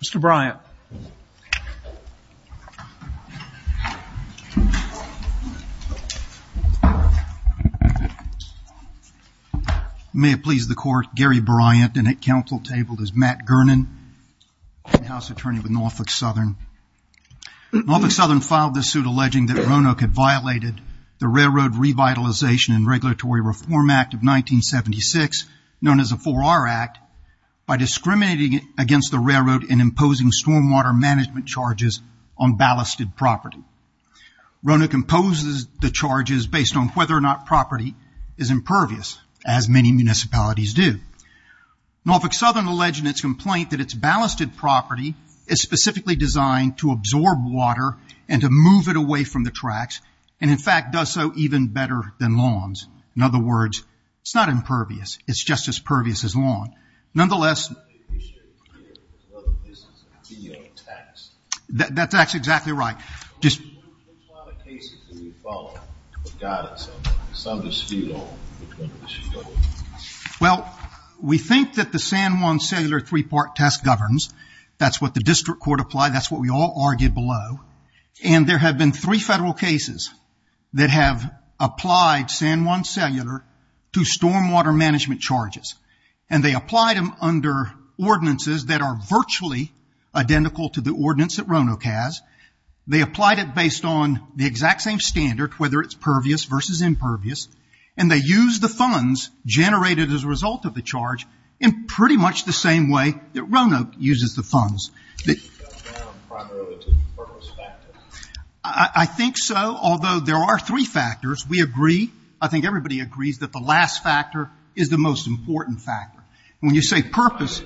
Mr. Bryant. May it please the court, Gary Bryant and at council table is Matt Gernon, House Attorney with Norfolk Southern. Norfolk Southern filed this suit alleging that Roanoke had violated the Railroad Revitalization and Regulatory Reform Act of 1976, known as the Four-R Act, by discriminating against the railroad and imposing stormwater management charges on ballasted property. Roanoke imposes the charges based on whether or not property is impervious, as many municipalities do. Norfolk Southern alleged in its complaint that its ballasted property is specifically designed to absorb water and to move it away from the tracks, and in fact does so even better than lawns. In other words, it's not impervious, it's just as pervious as lawn. Nonetheless, that's exactly right. Well, we think that the San Juan cellular three-part test governs, that's what the district court applied, that's what we all argued below, and there have been three federal cases that have applied San Juan cellular to stormwater management charges, and they applied them under ordinances that are virtually identical to the ordinance that Roanoke has. They applied it based on the exact same standard, whether it's pervious versus impervious, and they used the funds generated as a result of the charge in pretty much the same way that Roanoke uses the funds. I think so, although there are three factors, we agree, I think everybody agrees that the last factor is the most important factor. When you say purpose,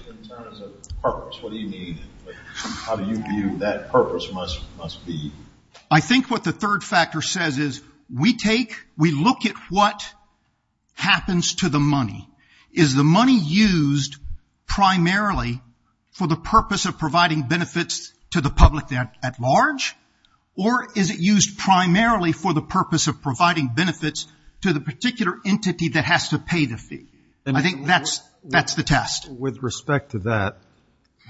I think what the third factor says is we take, we look at what happens to the money. Is the money used primarily for the purpose of providing benefits to the public at large, or is it used primarily for the purpose of providing benefits to the particular entity that has to pay the fee? I think that's the test. With respect to that,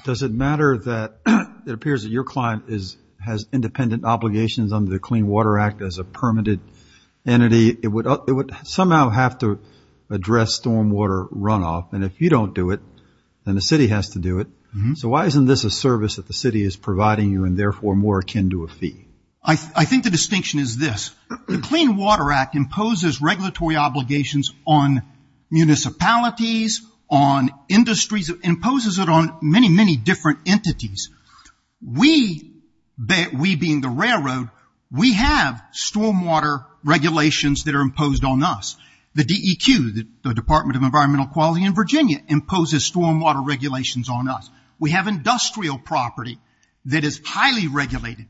does it matter that it appears that your client has independent obligations under the Clean Water Act as a way to address stormwater runoff, and if you don't do it, then the city has to do it, so why isn't this a service that the city is providing you and therefore more akin to a fee? I think the distinction is this. The Clean Water Act imposes regulatory obligations on municipalities, on industries, imposes it on many, many different entities. We being the railroad, we have stormwater regulations that are imposed on us. The DEQ, the Department of Environmental Quality in Virginia, imposes stormwater regulations on us. We have industrial property that is highly regulated.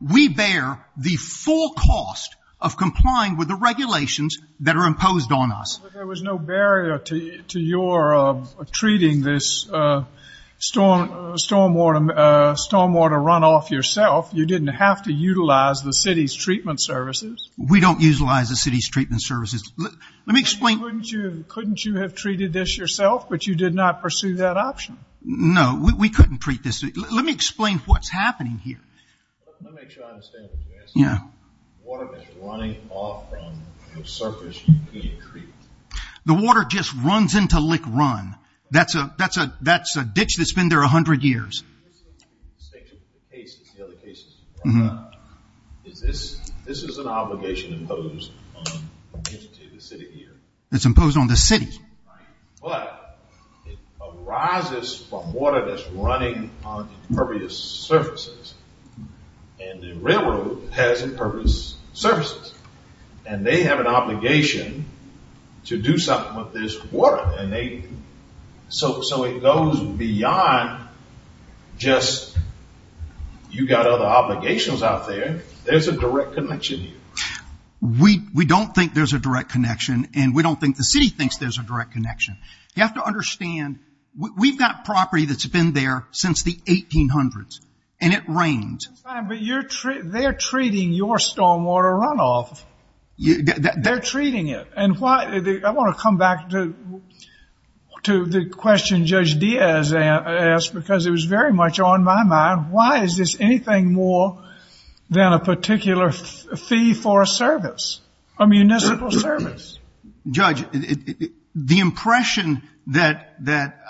We bear the full cost of complying with the regulations that are imposed on us. But there was no barrier to your treating this stormwater runoff yourself. You didn't have to utilize the city's treatment services. We don't utilize the city's treatment services. Let me explain. Couldn't you have treated this yourself, but you did not pursue that option? No, we couldn't treat this. Let me explain what's happening here. Let me try to understand what you're asking. Water that's running off from the surface you can't treat. The water just runs into Lick Run. That's a ditch that's been there a hundred years. This is an obligation imposed on the city. It's imposed on the city. But it arises from water that's running on impervious surfaces. And the railroad has impervious surfaces. And they have an obligation to do something with this water. So it goes beyond just you got other obligations out there. There's a direct connection here. We don't think there's a direct connection. And we don't think the city thinks there's a direct connection. You have to understand we've got property that's been there since the 1800s. And it rains. But they're treating your stormwater runoff. They're treating it. I want to come back to the question Judge Diaz asked because it was very much on my mind. Why is this anything more than a particular fee for a service, a municipal service? Judge, the impression that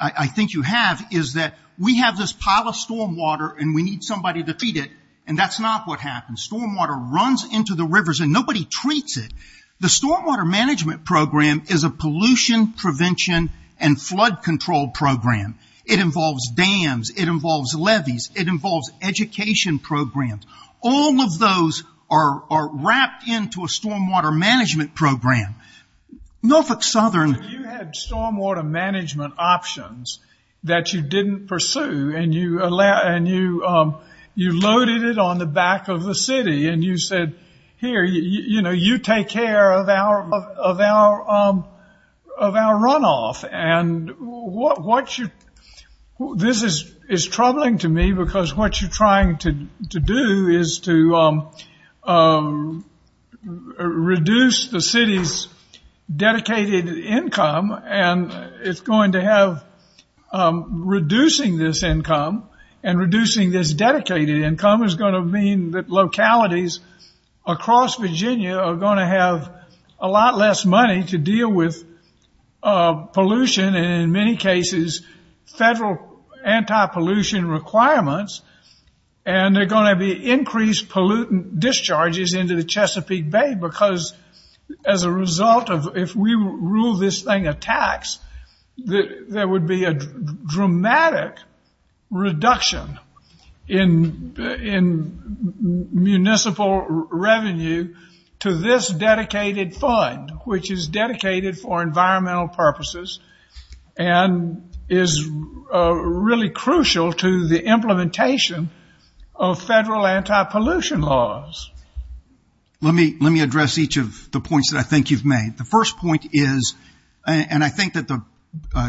I think you have is that we have this pile of stormwater and we need somebody to feed it. And that's not what happens. Stormwater runs into the rivers and nobody treats it. The stormwater management program is a pollution prevention and flood control program. It involves dams. It involves levees. It involves education programs. All of those are wrapped into a stormwater management program. Norfolk Southern... You had stormwater management options that you didn't pursue and you loaded it on the back of the city and you said, here, you take care of our runoff. And this is troubling to me because what you're trying to do is to reduce the city's dedicated income. And it's going to have... Reducing this income and reducing this dedicated income is going to mean that localities across Virginia are going to have a lot less money to deal with pollution and, in many cases, federal anti-pollution requirements. And there are going to be increased pollutant discharges into the Chesapeake Bay because, as a result of... If we rule this thing a tax, there would be a dramatic reduction in municipal revenue to this dedicated fund, which is dedicated for environmental purposes and is really crucial to the implementation of federal anti-pollution laws. Let me address each of the points that I think you've made. The first point is, and I think that the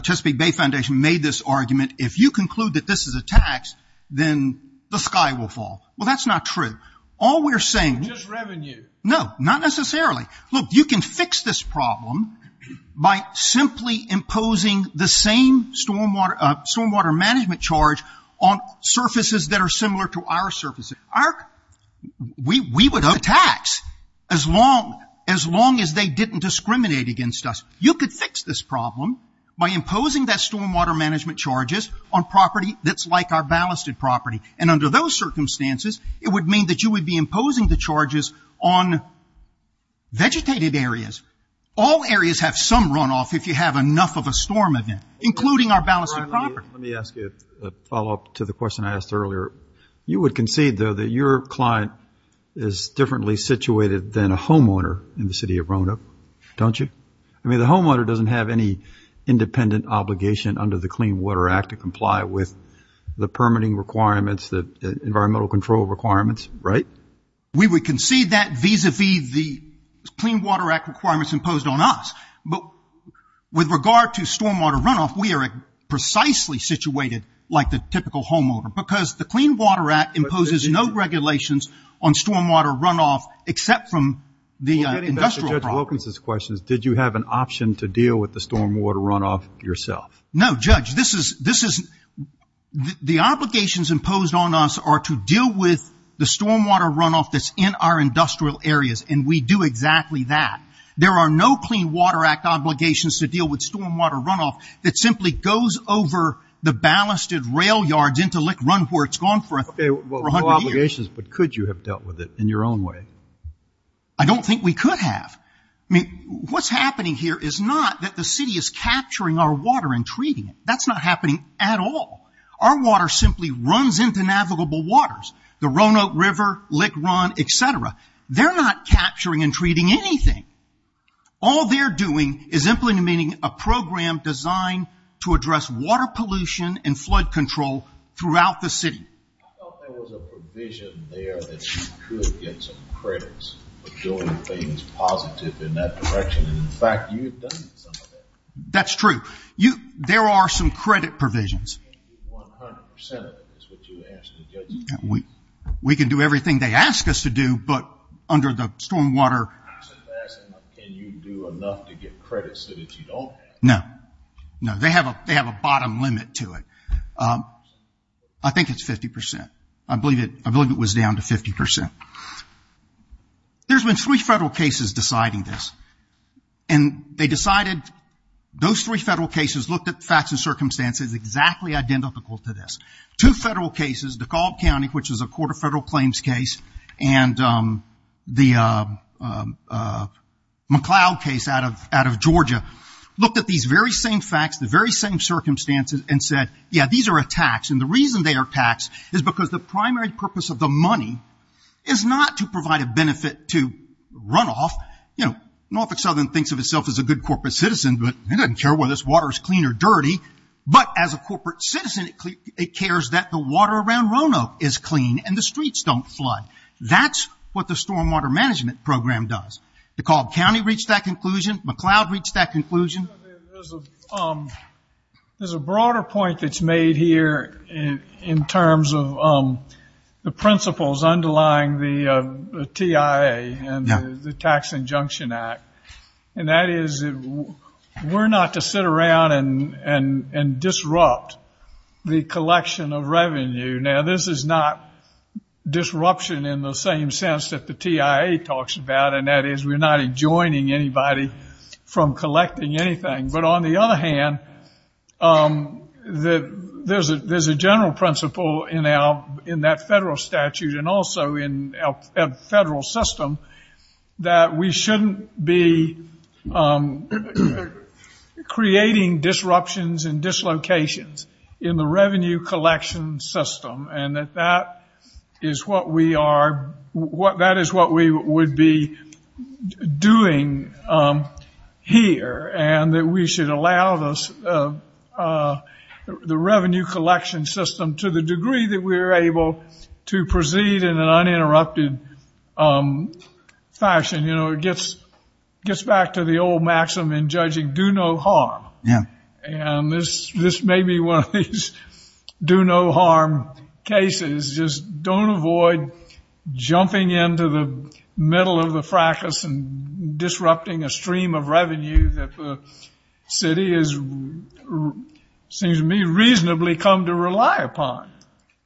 Chesapeake Bay Foundation made this argument, if you conclude that this is a tax, then the sky will fall. Well, that's not true. All we're necessarily... Look, you can fix this problem by simply imposing the same stormwater management charge on surfaces that are similar to our surfaces. We would have a tax as long as they didn't discriminate against us. You could fix this problem by imposing that stormwater management charges on property that's like our ballasted property. And under those circumstances, it would mean that you would be imposing the charges on vegetated areas. All areas have some runoff if you have enough of a storm event, including our ballasted property. Let me ask you a follow-up to the question I asked earlier. You would concede, though, that your client is differently situated than a homeowner in the city of Roanoke, don't you? I mean, the homeowner doesn't have any independent obligation under the Clean Water Act to comply with the permitting requirements, the environmental control requirements, right? We would concede that vis-a-vis the Clean Water Act requirements imposed on us. But with regard to stormwater runoff, we are precisely situated like the typical homeowner, because the Clean Water Act imposes no regulations on stormwater runoff except from the industrial problem. Well, getting back to Judge Wilkins' questions, did you have an option to deal with the stormwater runoff yourself? No, Judge. The obligations imposed on us are to deal with the stormwater runoff that's in our industrial areas, and we do exactly that. There are no Clean Water Act obligations to deal with stormwater runoff that simply goes over the ballasted rail yards into Lick Run, where it's gone for a hundred years. Okay, well, no obligations, but could you have dealt with it in your own way? I don't think we could have. I mean, what's happening here is not that the city is capturing our water and treating it. That's not happening at all. Our water simply runs into navigable waters, the Roanoke River, Lick Run, et cetera. They're not capturing and treating anything. All they're doing is implementing a program designed to address water pollution and flood control throughout the city. I thought there was a provision there that you could get some credits for doing things positive in that direction, and in fact, you've done some of that. That's true. There are some credit provisions. You can't do 100% of it, is what you asked the judge to do. We can do everything they ask us to do, but under the stormwater... I said last time, can you do enough to get credits that you don't have? No. No, they have a bottom limit to it. I think it's 50%. I believe it was down to 50%. There's been three federal cases deciding this, and they decided... Those three federal cases looked at facts and circumstances exactly identical to this. Two federal cases, DeKalb County, which is a court of federal claims case, and the very same facts, the very same circumstances, and said, yeah, these are attacks. The reason they are attacks is because the primary purpose of the money is not to provide a benefit to runoff. Norfolk Southern thinks of itself as a good corporate citizen, but they don't care whether this water is clean or dirty. As a corporate citizen, it cares that the water around Roanoke is clean and the streets don't flood. That's what the stormwater management program does. DeKalb County reached that conclusion. McLeod reached that conclusion. There's a broader point that's made here in terms of the principles underlying the TIA and the Tax Injunction Act, and that is we're not to sit around and disrupt the collection of revenue. Now, this is not disruption in the same sense that the TIA talks about, and that is we're not adjoining anybody from collecting anything. But on the other hand, there's a general principle in that federal statute and also in our federal system that we shouldn't be creating disruptions and dislocations in the revenue collection system, and that is what we would be doing here, and that we should allow the revenue collection system to the degree that we're able to proceed in an uninterrupted fashion. It gets back to the old maxim in judging, do no harm, and this may be one of these do no harm cases. Just don't avoid jumping into the middle of the fracas and disrupting a stream of revenue that the city has, it seems to me, reasonably come to rely upon.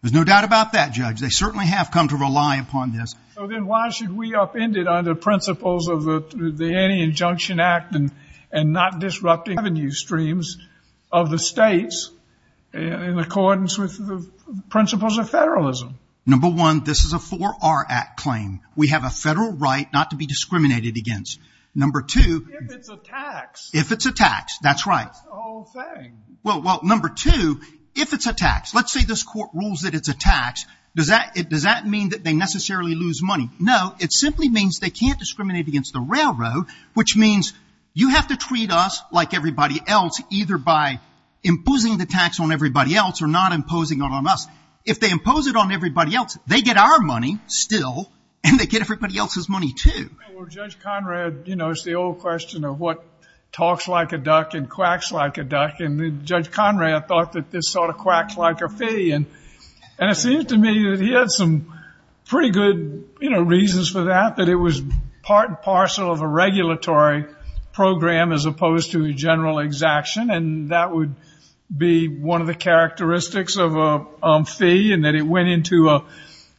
There's no doubt about that, Judge. They certainly have come to rely upon this. So then why should we upend it under principles of the Any Injunction Act and not disrupting revenue streams of the states in accordance with the principles of federalism? Number one, this is a 4R Act claim. We have a federal right not to be discriminated against. Number two... If it's a tax. If it's a tax, that's right. That's the whole thing. Well, number two, if it's a tax, let's say this court rules that it's a tax, does that mean that they necessarily lose money? No, it simply means they can't discriminate against the railroad, which means you have to treat us like everybody else, either by imposing the tax on everybody else or not imposing it on us. If they impose it on everybody else, they get our money still, and they get everybody else's money too. Well, Judge Conrad, you know, it's the old question of what talks like a duck and quacks like a duck, and Judge Conrad thought that this sort of quacks like a fee, and it seems to me that he had some pretty good reasons for that, that it was part and parcel of a regulatory program as opposed to a general exaction, and that would be one of the characteristics of a fee, and that it went into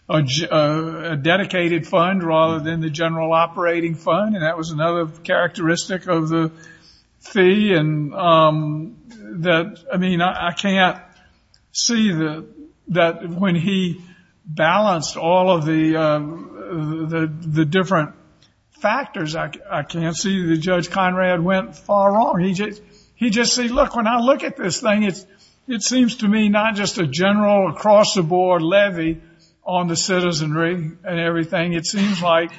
a dedicated fund rather than the general operating fund, and that was another characteristic of the fee, and that, I mean, I can't see that when he balanced all of the different factors, I can't see that Judge Conrad went far wrong. He just said, look, when I look at this thing, it seems to me not just a general across-the-board levy on the citizenry and everything, it seems like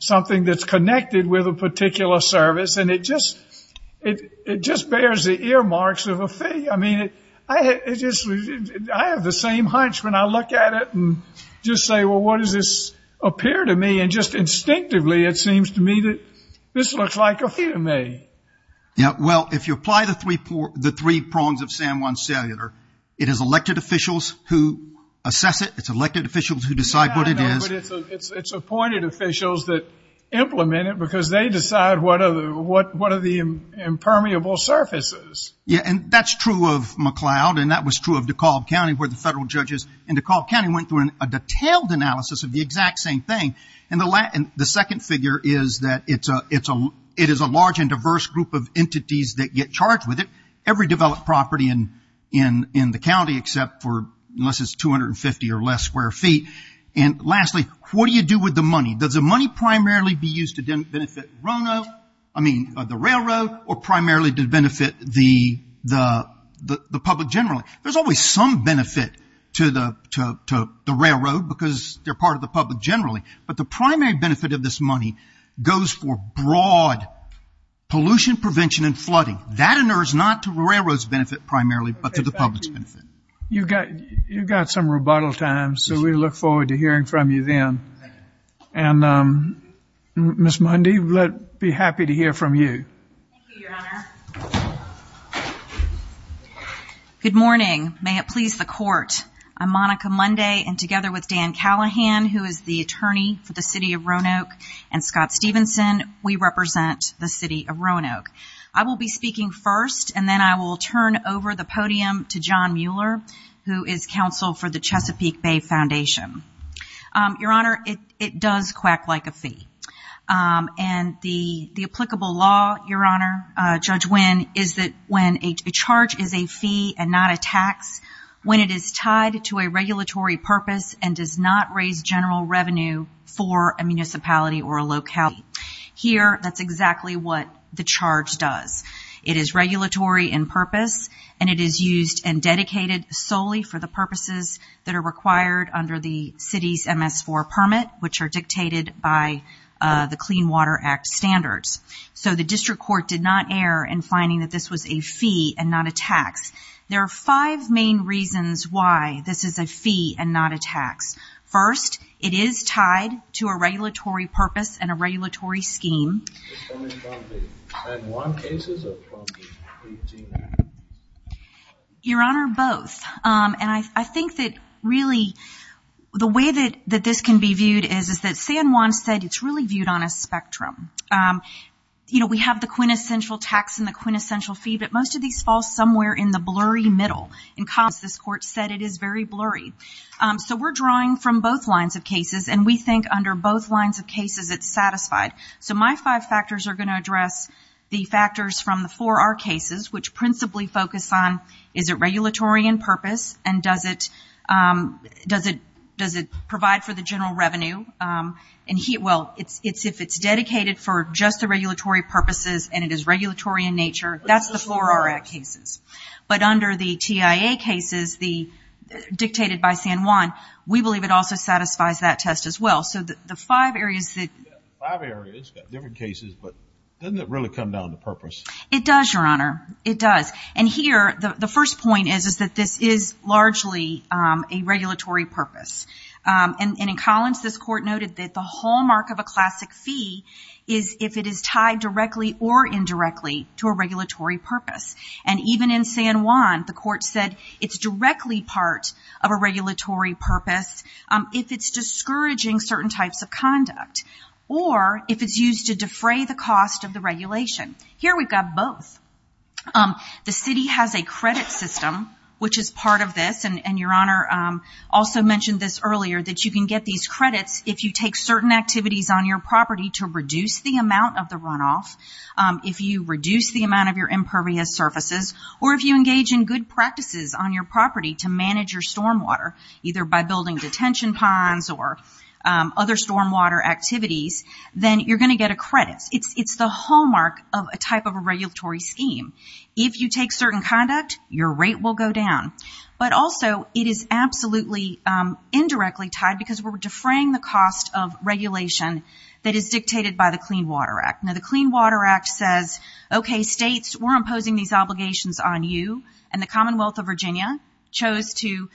something that's connected with a particular service, and it just bears the earmarks of a fee. I mean, I have the same hunch when I look at it and just say, well, what does this appear to me, and just instinctively it seems to me that this looks like a fee to me. Yeah, well, if you apply the three prongs of San Juan Cellular, it has elected officials who assess it, it's elected officials who decide what it is. Yeah, I know, but it's appointed officials that implement it because they decide what are the impermeable surfaces. Yeah, and that's true of McLeod, and that was true of DeKalb County where the federal judges in DeKalb County went through a detailed analysis of the exact same thing, and the second figure is that it is a large and diverse group of entities that get charged with it, every developed property in the county except for, unless it's 250 or less square feet, and lastly, what do you do with the money? Does the money primarily be used to benefit RONO, I mean, the railroad, or primarily to benefit the public generally? There's always some benefit to the railroad because they're part of the public generally, but the money is used for broad pollution prevention and flooding. That is not to the railroad's benefit primarily, but to the public's benefit. You've got some rebuttal time, so we look forward to hearing from you then. And Ms. Mundy, we'd be happy to hear from you. Thank you, Your Honor. Good morning. May it please the Court. I'm Monica Mundy, and together with Dan Callahan, who is the attorney for the City of Roanoke, and Scott Stevenson, we represent the City of Roanoke. I will be speaking first, and then I will turn over the podium to John Mueller, who is counsel for the Chesapeake Bay Foundation. Your Honor, it does quack like a fee, and the applicable law, Your Honor, Judge Winn, is that when a charge is a fee and not a tax, when it is tied to a regulatory purpose and does not raise general revenue for a municipality or a locality. Here, that's exactly what the charge does. It is regulatory in purpose, and it is used and dedicated solely for the purposes that are required under the city's MS-4 permit, which are dictated by the Clean Water Act standards. So the district court did not err in finding that this was a fee and not a tax. There are five main reasons why this is a fee and not a tax. First, it is tied to a regulatory purpose and a regulatory scheme. Your Honor, both. And I think that really the way that this can be viewed is that San Juan said it's really viewed on a spectrum. You know, we have the quintessential tax and the quintessential fee, but most of these fall somewhere in the blurry middle. This court said it is very blurry. So we're drawing from both lines of cases, and we think under both lines of cases it's satisfied. So my five factors are going to address the factors from the four R cases, which principally focus on is it regulatory in purpose and does it provide for the general revenue. Well, if it's dedicated for just the regulatory purposes and it is regulatory in nature, that's the four R cases. But under the TIA cases, the dictated by San Juan, we believe it also satisfies that test as well. So the five areas that. Five areas, different cases, but doesn't it really come down to purpose? It does, Your Honor. It does. And here, the first point is that this is largely a regulatory purpose. And in Collins, this court noted that the hallmark of a classic fee is if it is tied directly or indirectly to a regulatory purpose. And even in San Juan, the court said it's directly part of a regulatory purpose if it's discouraging certain types of conduct or if it's used to defray the cost of the regulation. Here we've got both. The city has a credit system, which is part of this, and Your Honor also mentioned this earlier, that you can get these credits if you take certain activities on your property to reduce the amount of the runoff, if you reduce the amount of your impervious surfaces, or if you engage in good practices on your property to manage your stormwater, either by building detention ponds or other stormwater activities, then you're going to get a credit. It's the hallmark of a type of a regulatory scheme. If you take certain conduct, your rate will go down. But also, it is absolutely indirectly tied because we're defraying the cost of regulation that is dictated by the Clean Water Act. Now, the Clean Water Act says, okay, states, we're imposing these obligations on you, and the Commonwealth of Virginia chose to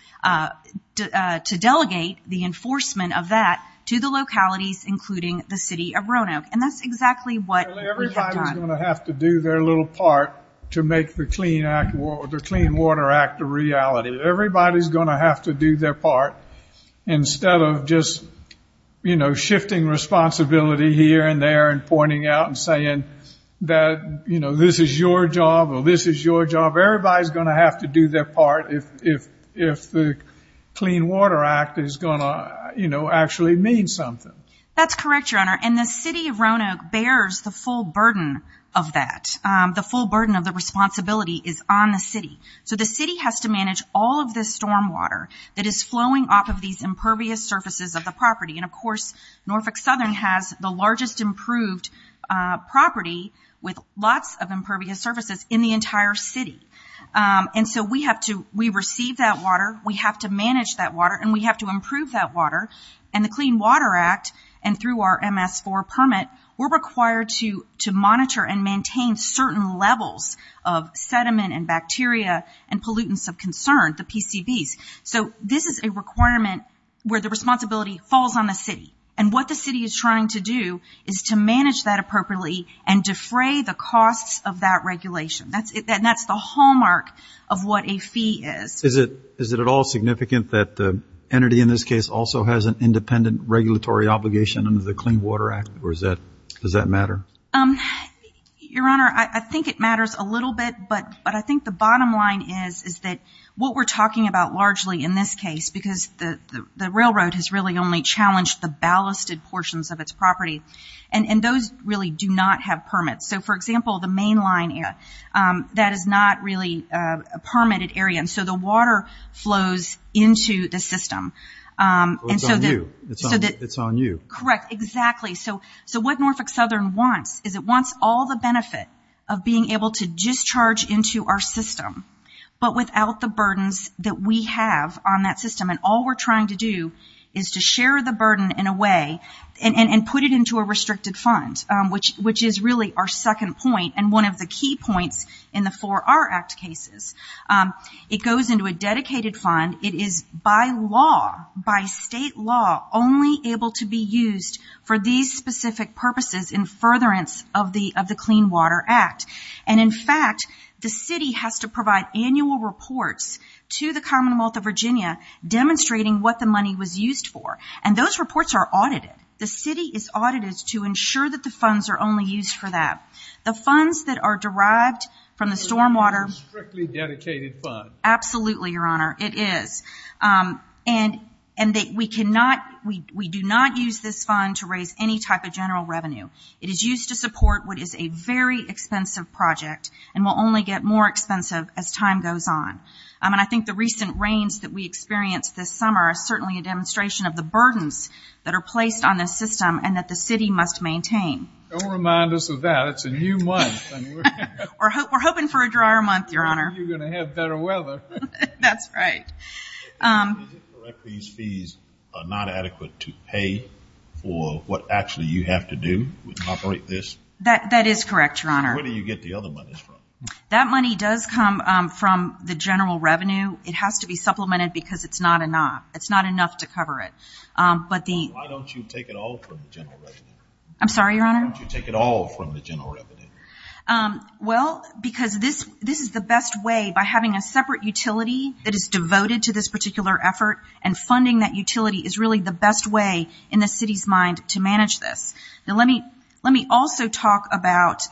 delegate the enforcement of that to the localities, including the city of Roanoke. And that's exactly what we have done. Everybody's going to have to do their little part to make the Clean Water Act a reality. Everybody's going to have to do their part instead of just, you know, shifting responsibility here and there and pointing out and saying that, you know, this is your job or this is your job. Everybody's going to have to do their part if the Clean Water Act is going to, you know, actually mean something. That's correct, Your Honor. And the city of Roanoke bears the full burden of that. The full burden of the responsibility is on the city. So the city has to manage all of this stormwater that is flowing off of these impervious surfaces of the property. And, of course, Norfolk Southern has the largest improved property with lots of impervious surfaces in the entire city. And so we have to – we receive that water, we have to manage that water, and we have to improve that water. And the Clean Water Act, and through our MS-4 permit, we're required to monitor and maintain certain levels of sediment and bacteria and pollutants of concern, the PCBs. So this is a requirement where the responsibility falls on the city. And what the city is trying to do is to manage that appropriately and defray the costs of that regulation. And that's the hallmark of what a fee is. Is it at all significant that the entity in this case also has an independent regulatory obligation under the Clean Water Act? Or does that matter? Your Honor, I think it matters a little bit. But I think the bottom line is that what we're talking about largely in this case, because the railroad has really only challenged the ballasted portions of its property, and those really do not have permits. So, for example, the mainline, that is not really a permitted area. And so the water flows into the system. It's on you. Correct, exactly. So what Norfolk Southern wants is it wants all the benefit of being able to discharge into our system, but without the burdens that we have on that system. And all we're trying to do is to share the burden in a way and put it into a restricted fund, which is really our second point and one of the key points in the 4R Act cases. It goes into a dedicated fund. It is by law, by state law, only able to be used for these specific purposes in furtherance of the Clean Water Act. And, in fact, the city has to provide annual reports to the Commonwealth of Virginia demonstrating what the money was used for. And those reports are audited. The city is audited to ensure that the funds are only used for that. The funds that are derived from the stormwater. It's a strictly dedicated fund. Absolutely, Your Honor, it is. And we do not use this fund to raise any type of general revenue. It is used to support what is a very expensive project and will only get more expensive as time goes on. And I think the recent rains that we experienced this summer are certainly a demonstration of the burdens that are placed on this system and that the city must maintain. Don't remind us of that. It's a new month. We're hoping for a drier month, Your Honor. You're going to have better weather. That's right. Is it correct these fees are not adequate to pay for what actually you have to do to operate this? That is correct, Your Honor. Where do you get the other monies from? That money does come from the general revenue. It has to be supplemented because it's not enough. It's not enough to cover it. Why don't you take it all from the general revenue? I'm sorry, Your Honor? Why don't you take it all from the general revenue? Well, because this is the best way by having a separate utility that is devoted to this particular effort and funding that utility is really the best way in the city's mind to manage this. Let me also talk about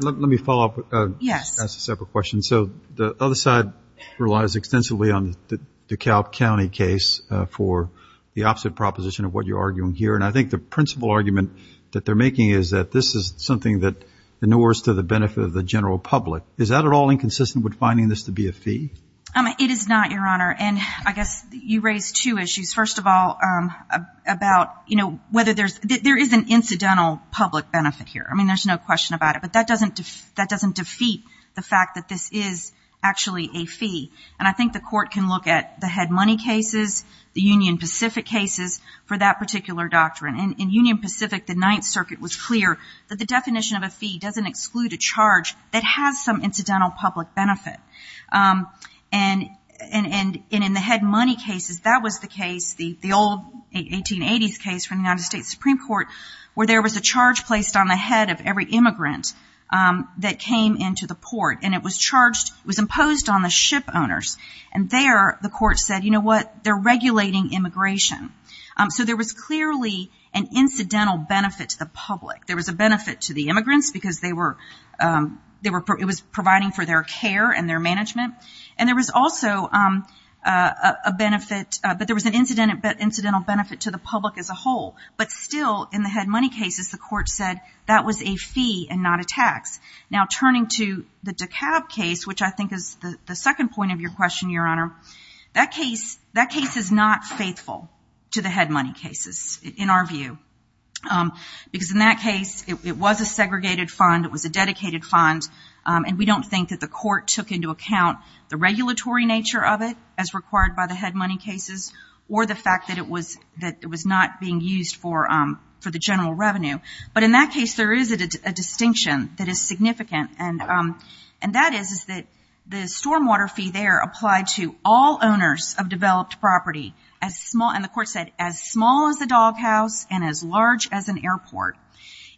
– Let me follow up. Yes. That's a separate question. So the other side relies extensively on the Dekalb County case for the opposite proposition of what you're arguing here, and I think the principal argument that they're making is that this is something that inures to the benefit of the general public. Is that at all inconsistent with finding this to be a fee? It is not, Your Honor, and I guess you raise two issues. First of all, about whether there is an incidental public benefit here. I mean, there's no question about it, but that doesn't defeat the fact that this is actually a fee, and I think the court can look at the head money cases, the Union Pacific cases for that particular doctrine. In Union Pacific, the Ninth Circuit was clear that the definition of a fee doesn't exclude a charge that has some incidental public benefit. And in the head money cases, that was the case, the old 1880s case from the United States Supreme Court, where there was a charge placed on the head of every immigrant that came into the port, and it was imposed on the ship owners. And there, the court said, you know what, they're regulating immigration. So there was clearly an incidental benefit to the public. There was a benefit to the immigrants because they were, it was providing for their care and their management. And there was also a benefit, but there was an incidental benefit to the public as a whole. But still, in the head money cases, the court said that was a fee and not a tax. Now, turning to the DeKalb case, which I think is the second point of your question, Your Honor, that case is not faithful to the head money cases, in our view. Because in that case, it was a segregated fund, it was a dedicated fund, and we don't think that the court took into account the regulatory nature of it, as required by the head money cases, or the fact that it was not being used for the general revenue. But in that case, there is a distinction that is significant, and that is that the stormwater fee there applied to all owners of developed property. And the court said, as small as a doghouse and as large as an airport.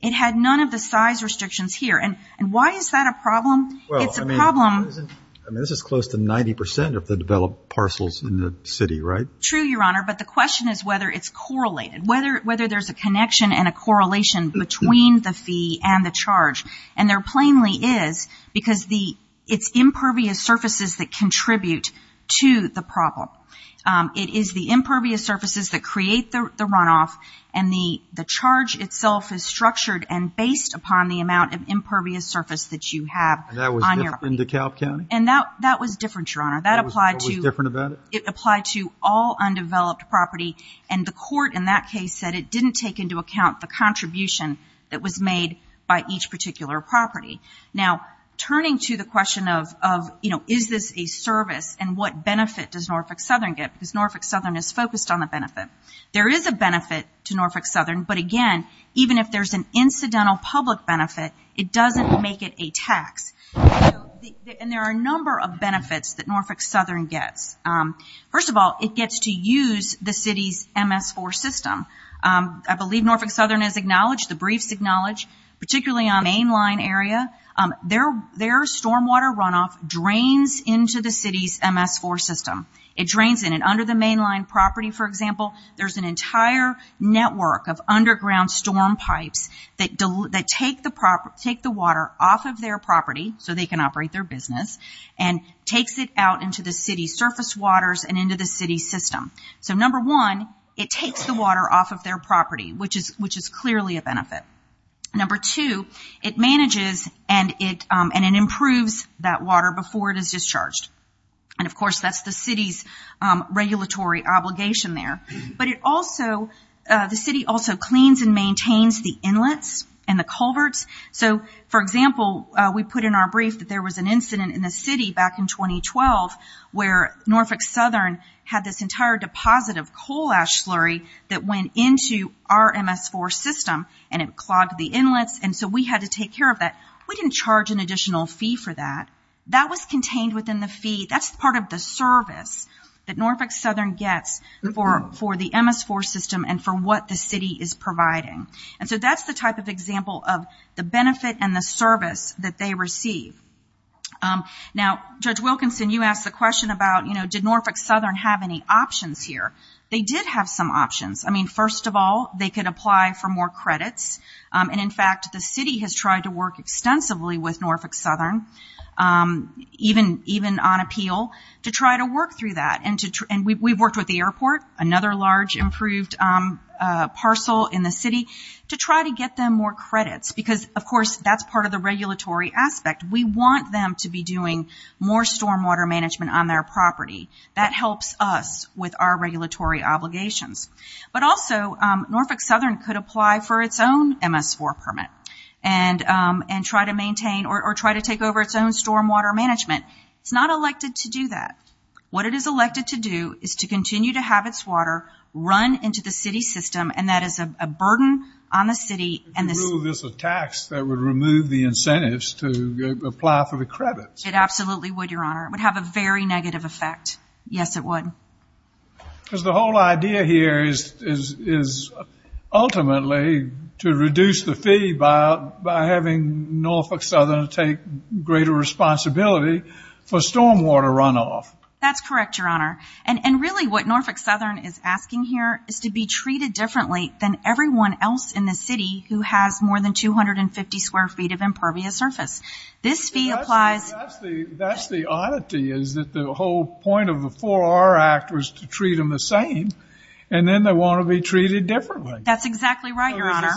It had none of the size restrictions here. And why is that a problem? It's a problem. Well, I mean, this is close to 90 percent of the developed parcels in the city, right? True, Your Honor, but the question is whether it's correlated, whether there's a connection and a correlation between the fee and the charge. And there plainly is, because it's impervious surfaces that contribute to the problem. It is the impervious surfaces that create the runoff, and the charge itself is structured and based upon the amount of impervious surface that you have on your property. And that was different in DeKalb County? And that was different, Your Honor. That was what was different about it? It applied to all undeveloped property, and the court in that case said it didn't take into account the contribution that was made by each particular property. Now, turning to the question of, you know, is this a service and what benefit does Norfolk Southern get? Because Norfolk Southern is focused on the benefit. There is a benefit to Norfolk Southern, but again, even if there's an incidental public benefit, it doesn't make it a tax. And there are a number of benefits that Norfolk Southern gets. First of all, it gets to use the city's MS4 system. I believe Norfolk Southern has acknowledged, the briefs acknowledge, particularly on mainline area, their stormwater runoff drains into the city's MS4 system. It drains in, and under the mainline property, for example, there's an entire network of underground storm pipes that take the water off of their property, so they can operate their business, and takes it out into the city's surface waters and into the city's system. So number one, it takes the water off of their property, which is clearly a benefit. Number two, it manages and it improves that water before it is discharged. And of course, that's the city's regulatory obligation there. But it also, the city also cleans and maintains the inlets and the culverts. So, for example, we put in our brief that there was an incident in the city back in 2012, where Norfolk Southern had this entire deposit of coal ash slurry that went into our MS4 system, and it clogged the inlets, and so we had to take care of that. We didn't charge an additional fee for that. That was contained within the fee. That's part of the service that Norfolk Southern gets for the MS4 system and for what the city is providing. And so that's the type of example of the benefit and the service that they receive. Now, Judge Wilkinson, you asked the question about, you know, did Norfolk Southern have any options here. They did have some options. I mean, first of all, they could apply for more credits, and in fact, the city has tried to work extensively with Norfolk Southern, even on appeal, to try to work through that. And we've worked with the airport, another large improved parcel in the city, to try to get them more credits, because, of course, that's part of the regulatory aspect. We want them to be doing more stormwater management on their property. That helps us with our regulatory obligations. But also, Norfolk Southern could apply for its own MS4 permit and try to maintain or try to take over its own stormwater management. It's not elected to do that. What it is elected to do is to continue to have its water run into the city system, and that is a burden on the city. This is a tax that would remove the incentives to apply for the credits. It absolutely would, Your Honor. It would have a very negative effect. Yes, it would. Because the whole idea here is ultimately to reduce the fee by having Norfolk Southern take greater responsibility for stormwater runoff. That's correct, Your Honor. And really what Norfolk Southern is asking here is to be treated differently than everyone else in the city who has more than 250 square feet of impervious surface. That's the oddity, is that the whole point of the 4R Act was to treat them the same, and then they want to be treated differently. That's exactly right, Your Honor.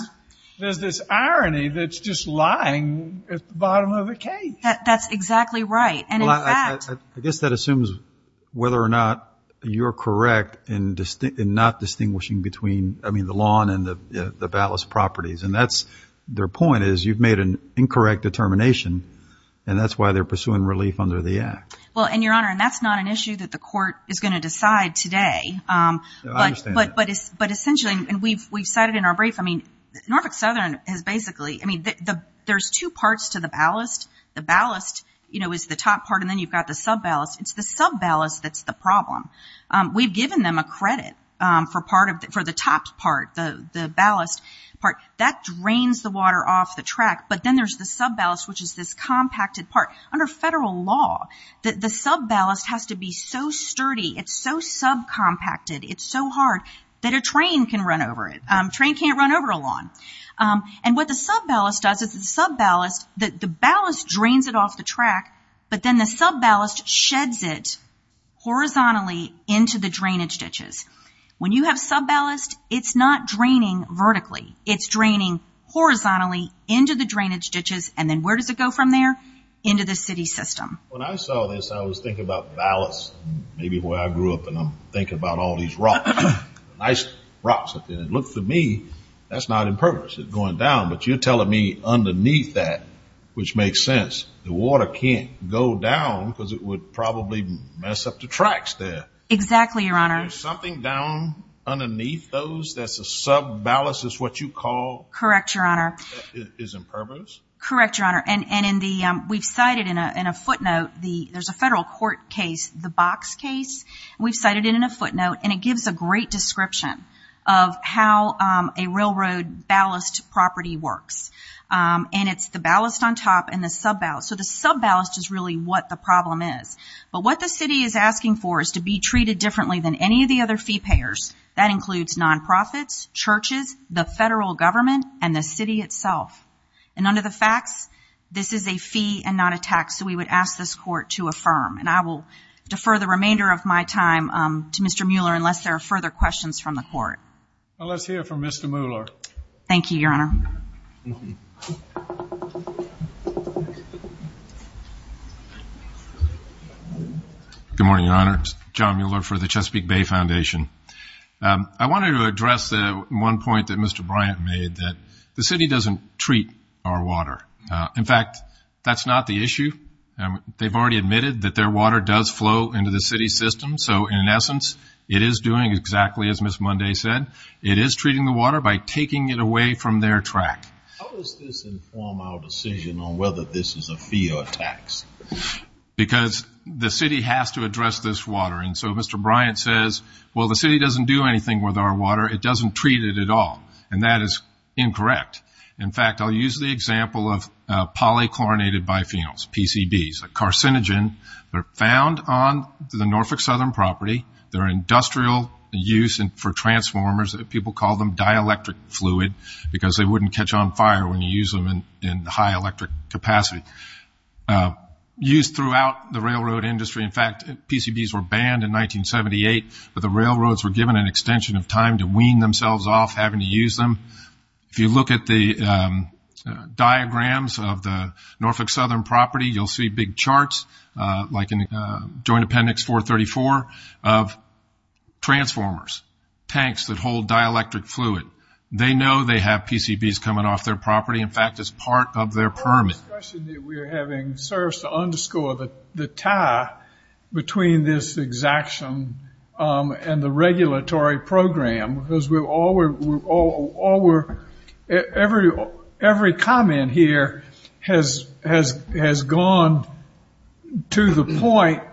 There's this irony that's just lying at the bottom of the cage. That's exactly right. Well, I guess that assumes whether or not you're correct in not distinguishing between the lawn and the ballast properties, and their point is you've made an incorrect determination, and that's why they're pursuing relief under the Act. Well, and, Your Honor, that's not an issue that the court is going to decide today. I understand that. But essentially, and we've cited in our brief, I mean, Norfolk Southern has basically, I mean, there's two parts to the ballast. The ballast, you know, is the top part, and then you've got the sub-ballast. It's the sub-ballast that's the problem. We've given them a credit for the top part, the ballast part. That drains the water off the track, but then there's the sub-ballast, which is this compacted part. Under federal law, the sub-ballast has to be so sturdy, it's so sub-compacted, it's so hard that a train can run over it. A train can't run over a lawn. And what the sub-ballast does is the sub-ballast, the ballast drains it off the track, but then the sub-ballast sheds it horizontally into the drainage ditches. When you have sub-ballast, it's not draining vertically. It's draining horizontally into the drainage ditches, and then where does it go from there? Into the city system. When I saw this, I was thinking about ballast. Maybe the way I grew up, and I'm thinking about all these rocks, nice rocks up there. And it looked to me, that's not in purpose, it's going down. But you're telling me underneath that, which makes sense, the water can't go down because it would probably mess up the tracks there. Exactly, Your Honor. There's something down underneath those that's a sub-ballast is what you call? Correct, Your Honor. That is in purpose? Correct, Your Honor. And we've cited in a footnote, there's a federal court case, the Box case. We've cited it in a footnote, and it gives a great description of how a railroad ballast property works. And it's the ballast on top and the sub-ballast. So the sub-ballast is really what the problem is. But what the city is asking for is to be treated differently than any of the other fee payers. That includes non-profits, churches, the federal government, and the city itself. And under the facts, this is a fee and not a tax, so we would ask this court to affirm. And I will defer the remainder of my time to Mr. Mueller unless there are further questions from the court. Let's hear from Mr. Mueller. Thank you, Your Honor. Good morning, Your Honor. John Mueller for the Chesapeake Bay Foundation. I wanted to address one point that Mr. Bryant made, that the city doesn't treat our water. In fact, that's not the issue. They've already admitted that their water does flow into the city system. So in essence, it is doing exactly as Ms. Munday said. It is treating the water by taking it away from their track. How does this inform our decision on whether this is a fee or a tax? Because the city has to address this water. And so Mr. Bryant says, well, the city doesn't do anything with our water. It doesn't treat it at all. And that is incorrect. In fact, I'll use the example of polychlorinated biphenyls, PCBs, a carcinogen. They're found on the Norfolk Southern property. They're industrial use for transformers. People call them dielectric fluid because they wouldn't catch on fire when you use them in high electric capacity. Used throughout the railroad industry. In fact, PCBs were banned in 1978, but the railroads were given an extension of time to wean themselves off having to use them. If you look at the diagrams of the Norfolk Southern property, you'll see big charts like in Joint Appendix 434 of transformers, tanks that hold dielectric fluid. They know they have PCBs coming off their property. In fact, it's part of their permit. We're having service to underscore the tie between this exaction and the regulatory program because every comment here has gone to the point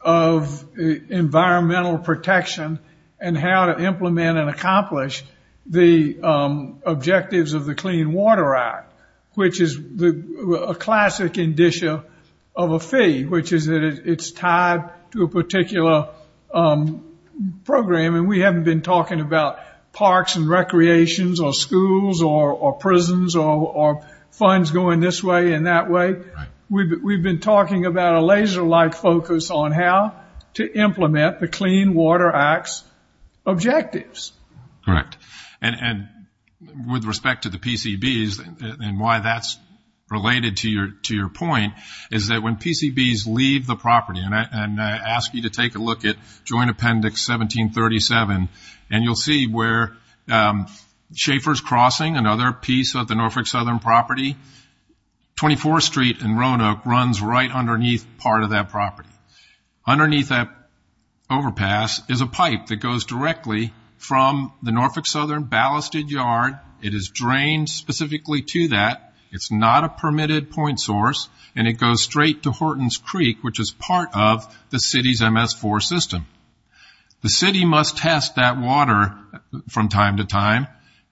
of environmental protection and how to implement and accomplish the objectives of the Clean Water Act, which is a classic indicia of a fee, which is that it's tied to a particular program. We haven't been talking about parks and recreations or schools or prisons or funds going this way and that way. We've been talking about a laser-like focus on how to implement the Clean Water Act's objectives. Correct. And with respect to the PCBs and why that's related to your point is that when PCBs leave the property, and I ask you to take a look at Joint Appendix 1737, and you'll see where Schaefer's Crossing, another piece of the Norfolk Southern property, 24th Street and Roanoke runs right underneath part of that property. Underneath that overpass is a pipe that goes directly from the Norfolk Southern ballasted yard. It is drained specifically to that. It's not a permitted point source, and it goes straight to Horton's Creek, which is part of the city's MS4 system. The city must test that water from time to time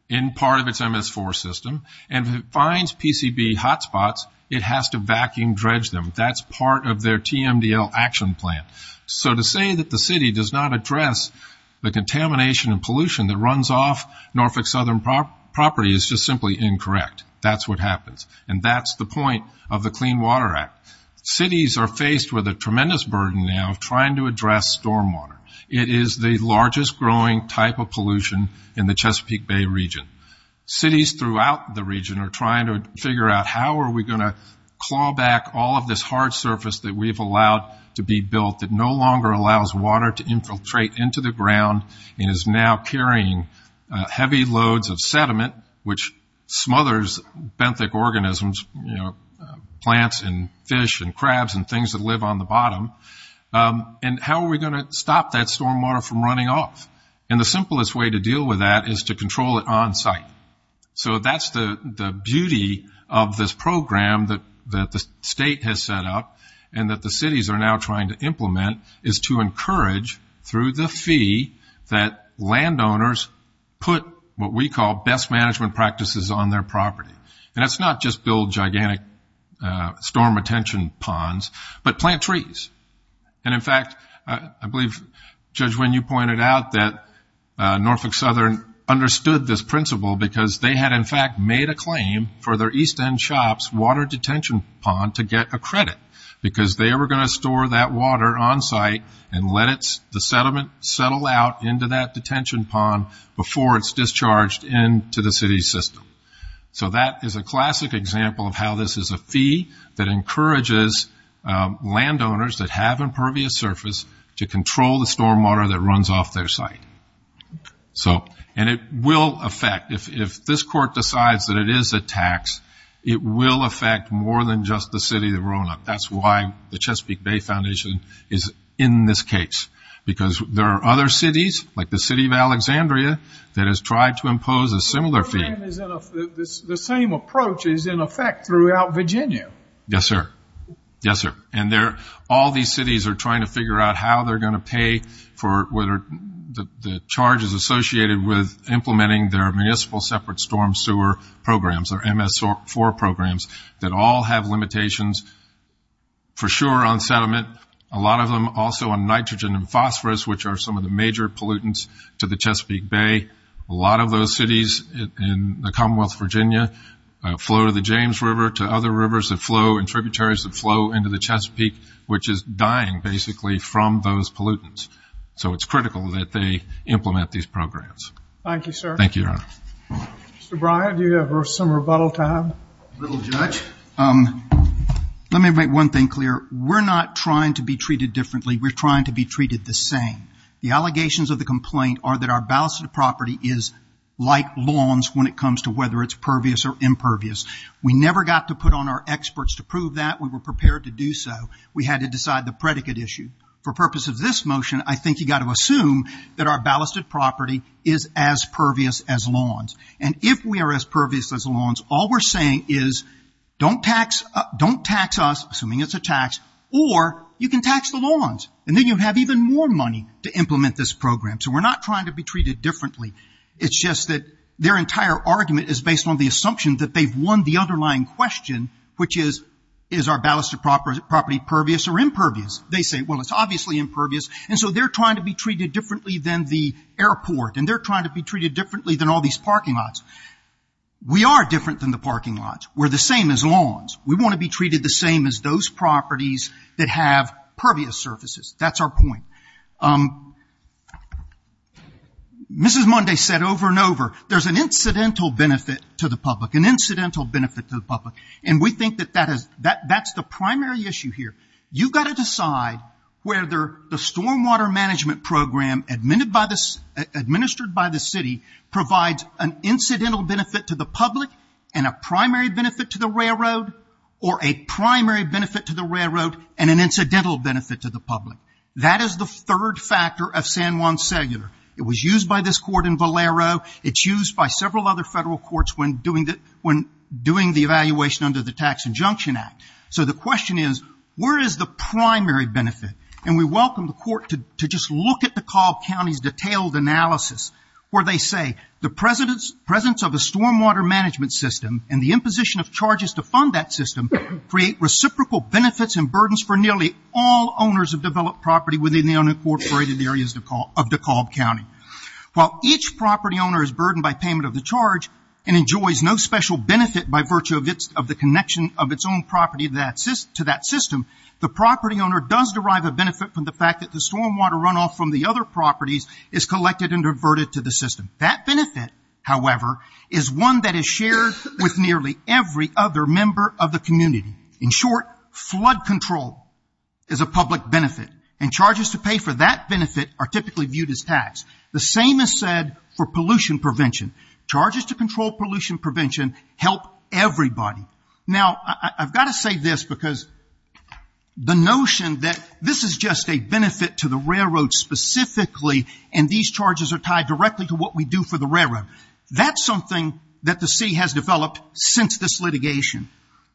in part of its MS4 system, and if it finds PCB hotspots, it has to vacuum dredge them. That's part of their TMDL action plan. So to say that the city does not address the contamination and pollution that runs off Norfolk Southern property is just simply incorrect. That's what happens. And that's the point of the Clean Water Act. Cities are faced with a tremendous burden now of trying to address stormwater. It is the largest growing type of pollution in the Chesapeake Bay region. Cities throughout the region are trying to figure out, how are we going to claw back all of this hard surface that we've allowed to be built and is now carrying heavy loads of sediment, which smothers benthic organisms, plants and fish and crabs and things that live on the bottom, and how are we going to stop that stormwater from running off? And the simplest way to deal with that is to control it on site. So that's the beauty of this program that the state has set up and that the cities are now trying to implement, is to encourage through the fee that landowners put what we call best management practices on their property. And that's not just build gigantic storm retention ponds, but plant trees. And in fact, I believe, Judge Wynn, you pointed out that Norfolk Southern understood this principle because they had in fact made a claim for their East End shop's water detention pond to get a credit because they were going to store that water on site and let the sediment settle out into that detention pond before it's discharged into the city system. So that is a classic example of how this is a fee that encourages landowners that have impervious surface to control the stormwater that runs off their site. And it will affect, if this court decides that it is a tax, it will affect more than just the city of Roanoke. That's why the Chesapeake Bay Foundation is in this case because there are other cities, like the city of Alexandria, that has tried to impose a similar fee. The same approach is in effect throughout Virginia. Yes, sir. Yes, sir. And all these cities are trying to figure out how they're going to pay for the charges associated with implementing their municipal separate storm sewer programs, their MS4 programs, that all have limitations for sure on sediment, a lot of them also on nitrogen and phosphorus, which are some of the major pollutants to the Chesapeake Bay. A lot of those cities in the Commonwealth of Virginia flow to the James River to other rivers that flow and tributaries that flow into the Chesapeake, which is dying basically from those pollutants. So it's critical that they implement these programs. Thank you, sir. Thank you, Your Honor. Mr. Bryant, do you have some rebuttal time? A little, Judge. Let me make one thing clear. We're not trying to be treated differently. We're trying to be treated the same. The allegations of the complaint are that our ballasted property is like lawns when it comes to whether it's pervious or impervious. We never got to put on our experts to prove that. We were prepared to do so. We had to decide the predicate issue. For purpose of this motion, I think you've got to assume that our ballasted property is as pervious as lawns. And if we are as pervious as lawns, all we're saying is don't tax us, assuming it's a tax, or you can tax the lawns. And then you have even more money to implement this program. So we're not trying to be treated differently. It's just that their entire argument is based on the assumption that they've won the underlying question, which is, is our ballasted property pervious or impervious? They say, well, it's obviously impervious. And so they're trying to be treated differently than the airport, and they're trying to be treated differently than all these parking lots. We are different than the parking lots. We're the same as lawns. We want to be treated the same as those properties that have pervious surfaces. That's our point. Mrs. Munday said over and over, there's an incidental benefit to the public, an incidental benefit to the public, and we think that that's the primary issue here. You've got to decide whether the stormwater management program administered by the city provides an incidental benefit to the public and a primary benefit to the railroad, or a primary benefit to the railroad and an incidental benefit to the public. That is the third factor of San Juan Cellular. It was used by this court in Valero. It's used by several other federal courts when doing the evaluation under the Tax Injunction Act. The question is, where is the primary benefit? We welcome the court to just look at DeKalb County's detailed analysis where they say the presence of a stormwater management system and the imposition of charges to fund that system create reciprocal benefits and burdens for nearly all owners of developed property within the unincorporated areas of DeKalb County. While each property owner is burdened by payment of the charge and enjoys no special benefit by virtue of the connection of its own property to that system, the property owner does derive a benefit from the fact that the stormwater runoff from the other properties is collected and diverted to the system. That benefit, however, is one that is shared with nearly every other member of the community. In short, flood control is a public benefit, and charges to pay for that benefit are typically viewed as tax. The same is said for pollution prevention. Charges to control pollution prevention help everybody. Now, I've got to say this because the notion that this is just a benefit to the railroad specifically and these charges are tied directly to what we do for the railroad, that's something that the city has developed since this litigation.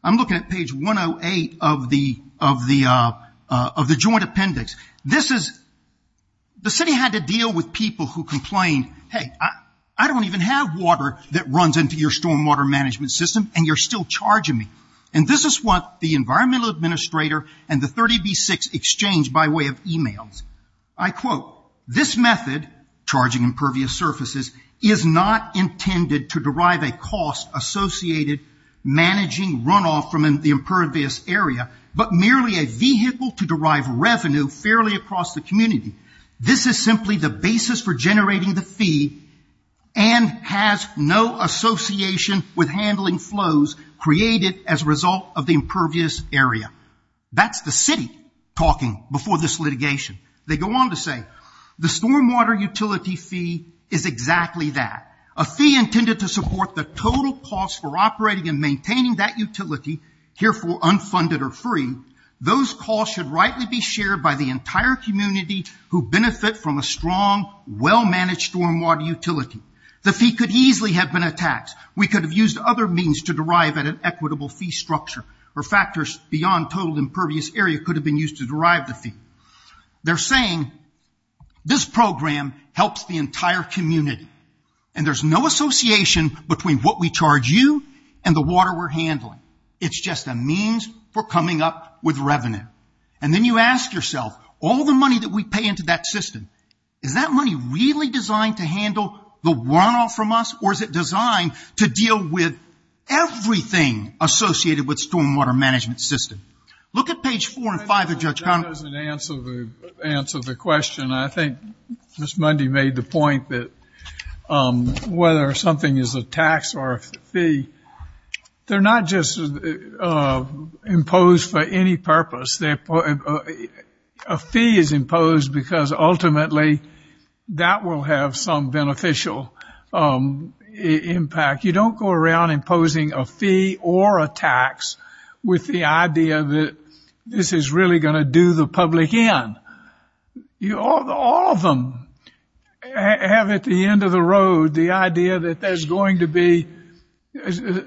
I'm looking at page 108 of the joint appendix. The city had to deal with people who complained, hey, I don't even have water that runs into your stormwater management system and you're still charging me. And this is what the environmental administrator and the 30B6 exchanged by way of e-mails. I quote, this method, charging impervious surfaces, is not intended to derive a cost associated managing runoff from the impervious area, but merely a vehicle to derive revenue fairly across the community. This is simply the basis for generating the fee and has no association with handling flows created as a result of the impervious area. That's the city talking before this litigation. They go on to say, the stormwater utility fee is exactly that. A fee intended to support the total cost for operating and maintaining that utility, herefore unfunded or free, those costs should rightly be shared by the entire community who benefit from a strong, well-managed stormwater utility. The fee could easily have been a tax. We could have used other means to derive an equitable fee structure or factors beyond total impervious area could have been used to derive the fee. They're saying, this program helps the entire community and there's no association between what we charge you and the water we're handling. It's just a means for coming up with revenue. And then you ask yourself, all the money that we pay into that system, is that money really designed to handle the runoff from us or is it designed to deal with everything associated with stormwater management system? Look at page 4 and 5 of Judge Connolly. That doesn't answer the question. I think Ms. Mundy made the point that whether something is a tax or a fee, they're not just imposed for any purpose. A fee is imposed because ultimately that will have some beneficial impact. You don't go around imposing a fee or a tax with the idea that this is really going to do the public in. All of them have at the end of the road the idea that there's going to be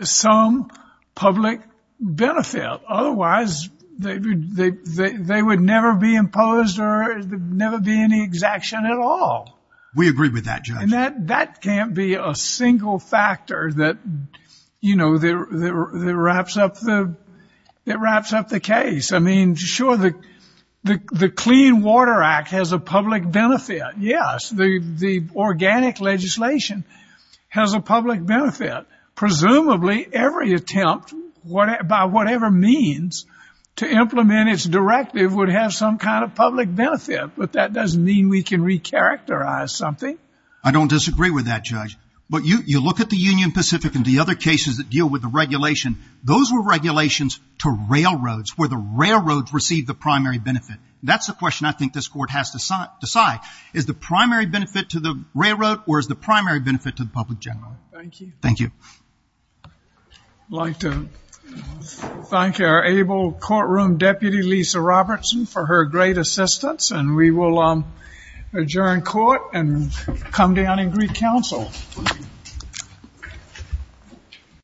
some public benefit. Otherwise, they would never be imposed or never be any exaction at all. We agree with that, Judge. And that can't be a single factor that wraps up the case. I mean, sure, the Clean Water Act has a public benefit. Yes, the organic legislation has a public benefit. Presumably, every attempt by whatever means to implement its directive would have some kind of public benefit. But that doesn't mean we can recharacterize something. I don't disagree with that, Judge. But you look at the Union Pacific and the other cases that deal with the regulation. Those were regulations to railroads where the railroads received the primary benefit. That's the question I think this Court has to decide. Is the primary benefit to the railroad or is the primary benefit to the public general? Thank you. Thank you. I'd like to thank our able courtroom deputy, Lisa Robertson, for her great assistance. And we will adjourn court and come down and greet counsel.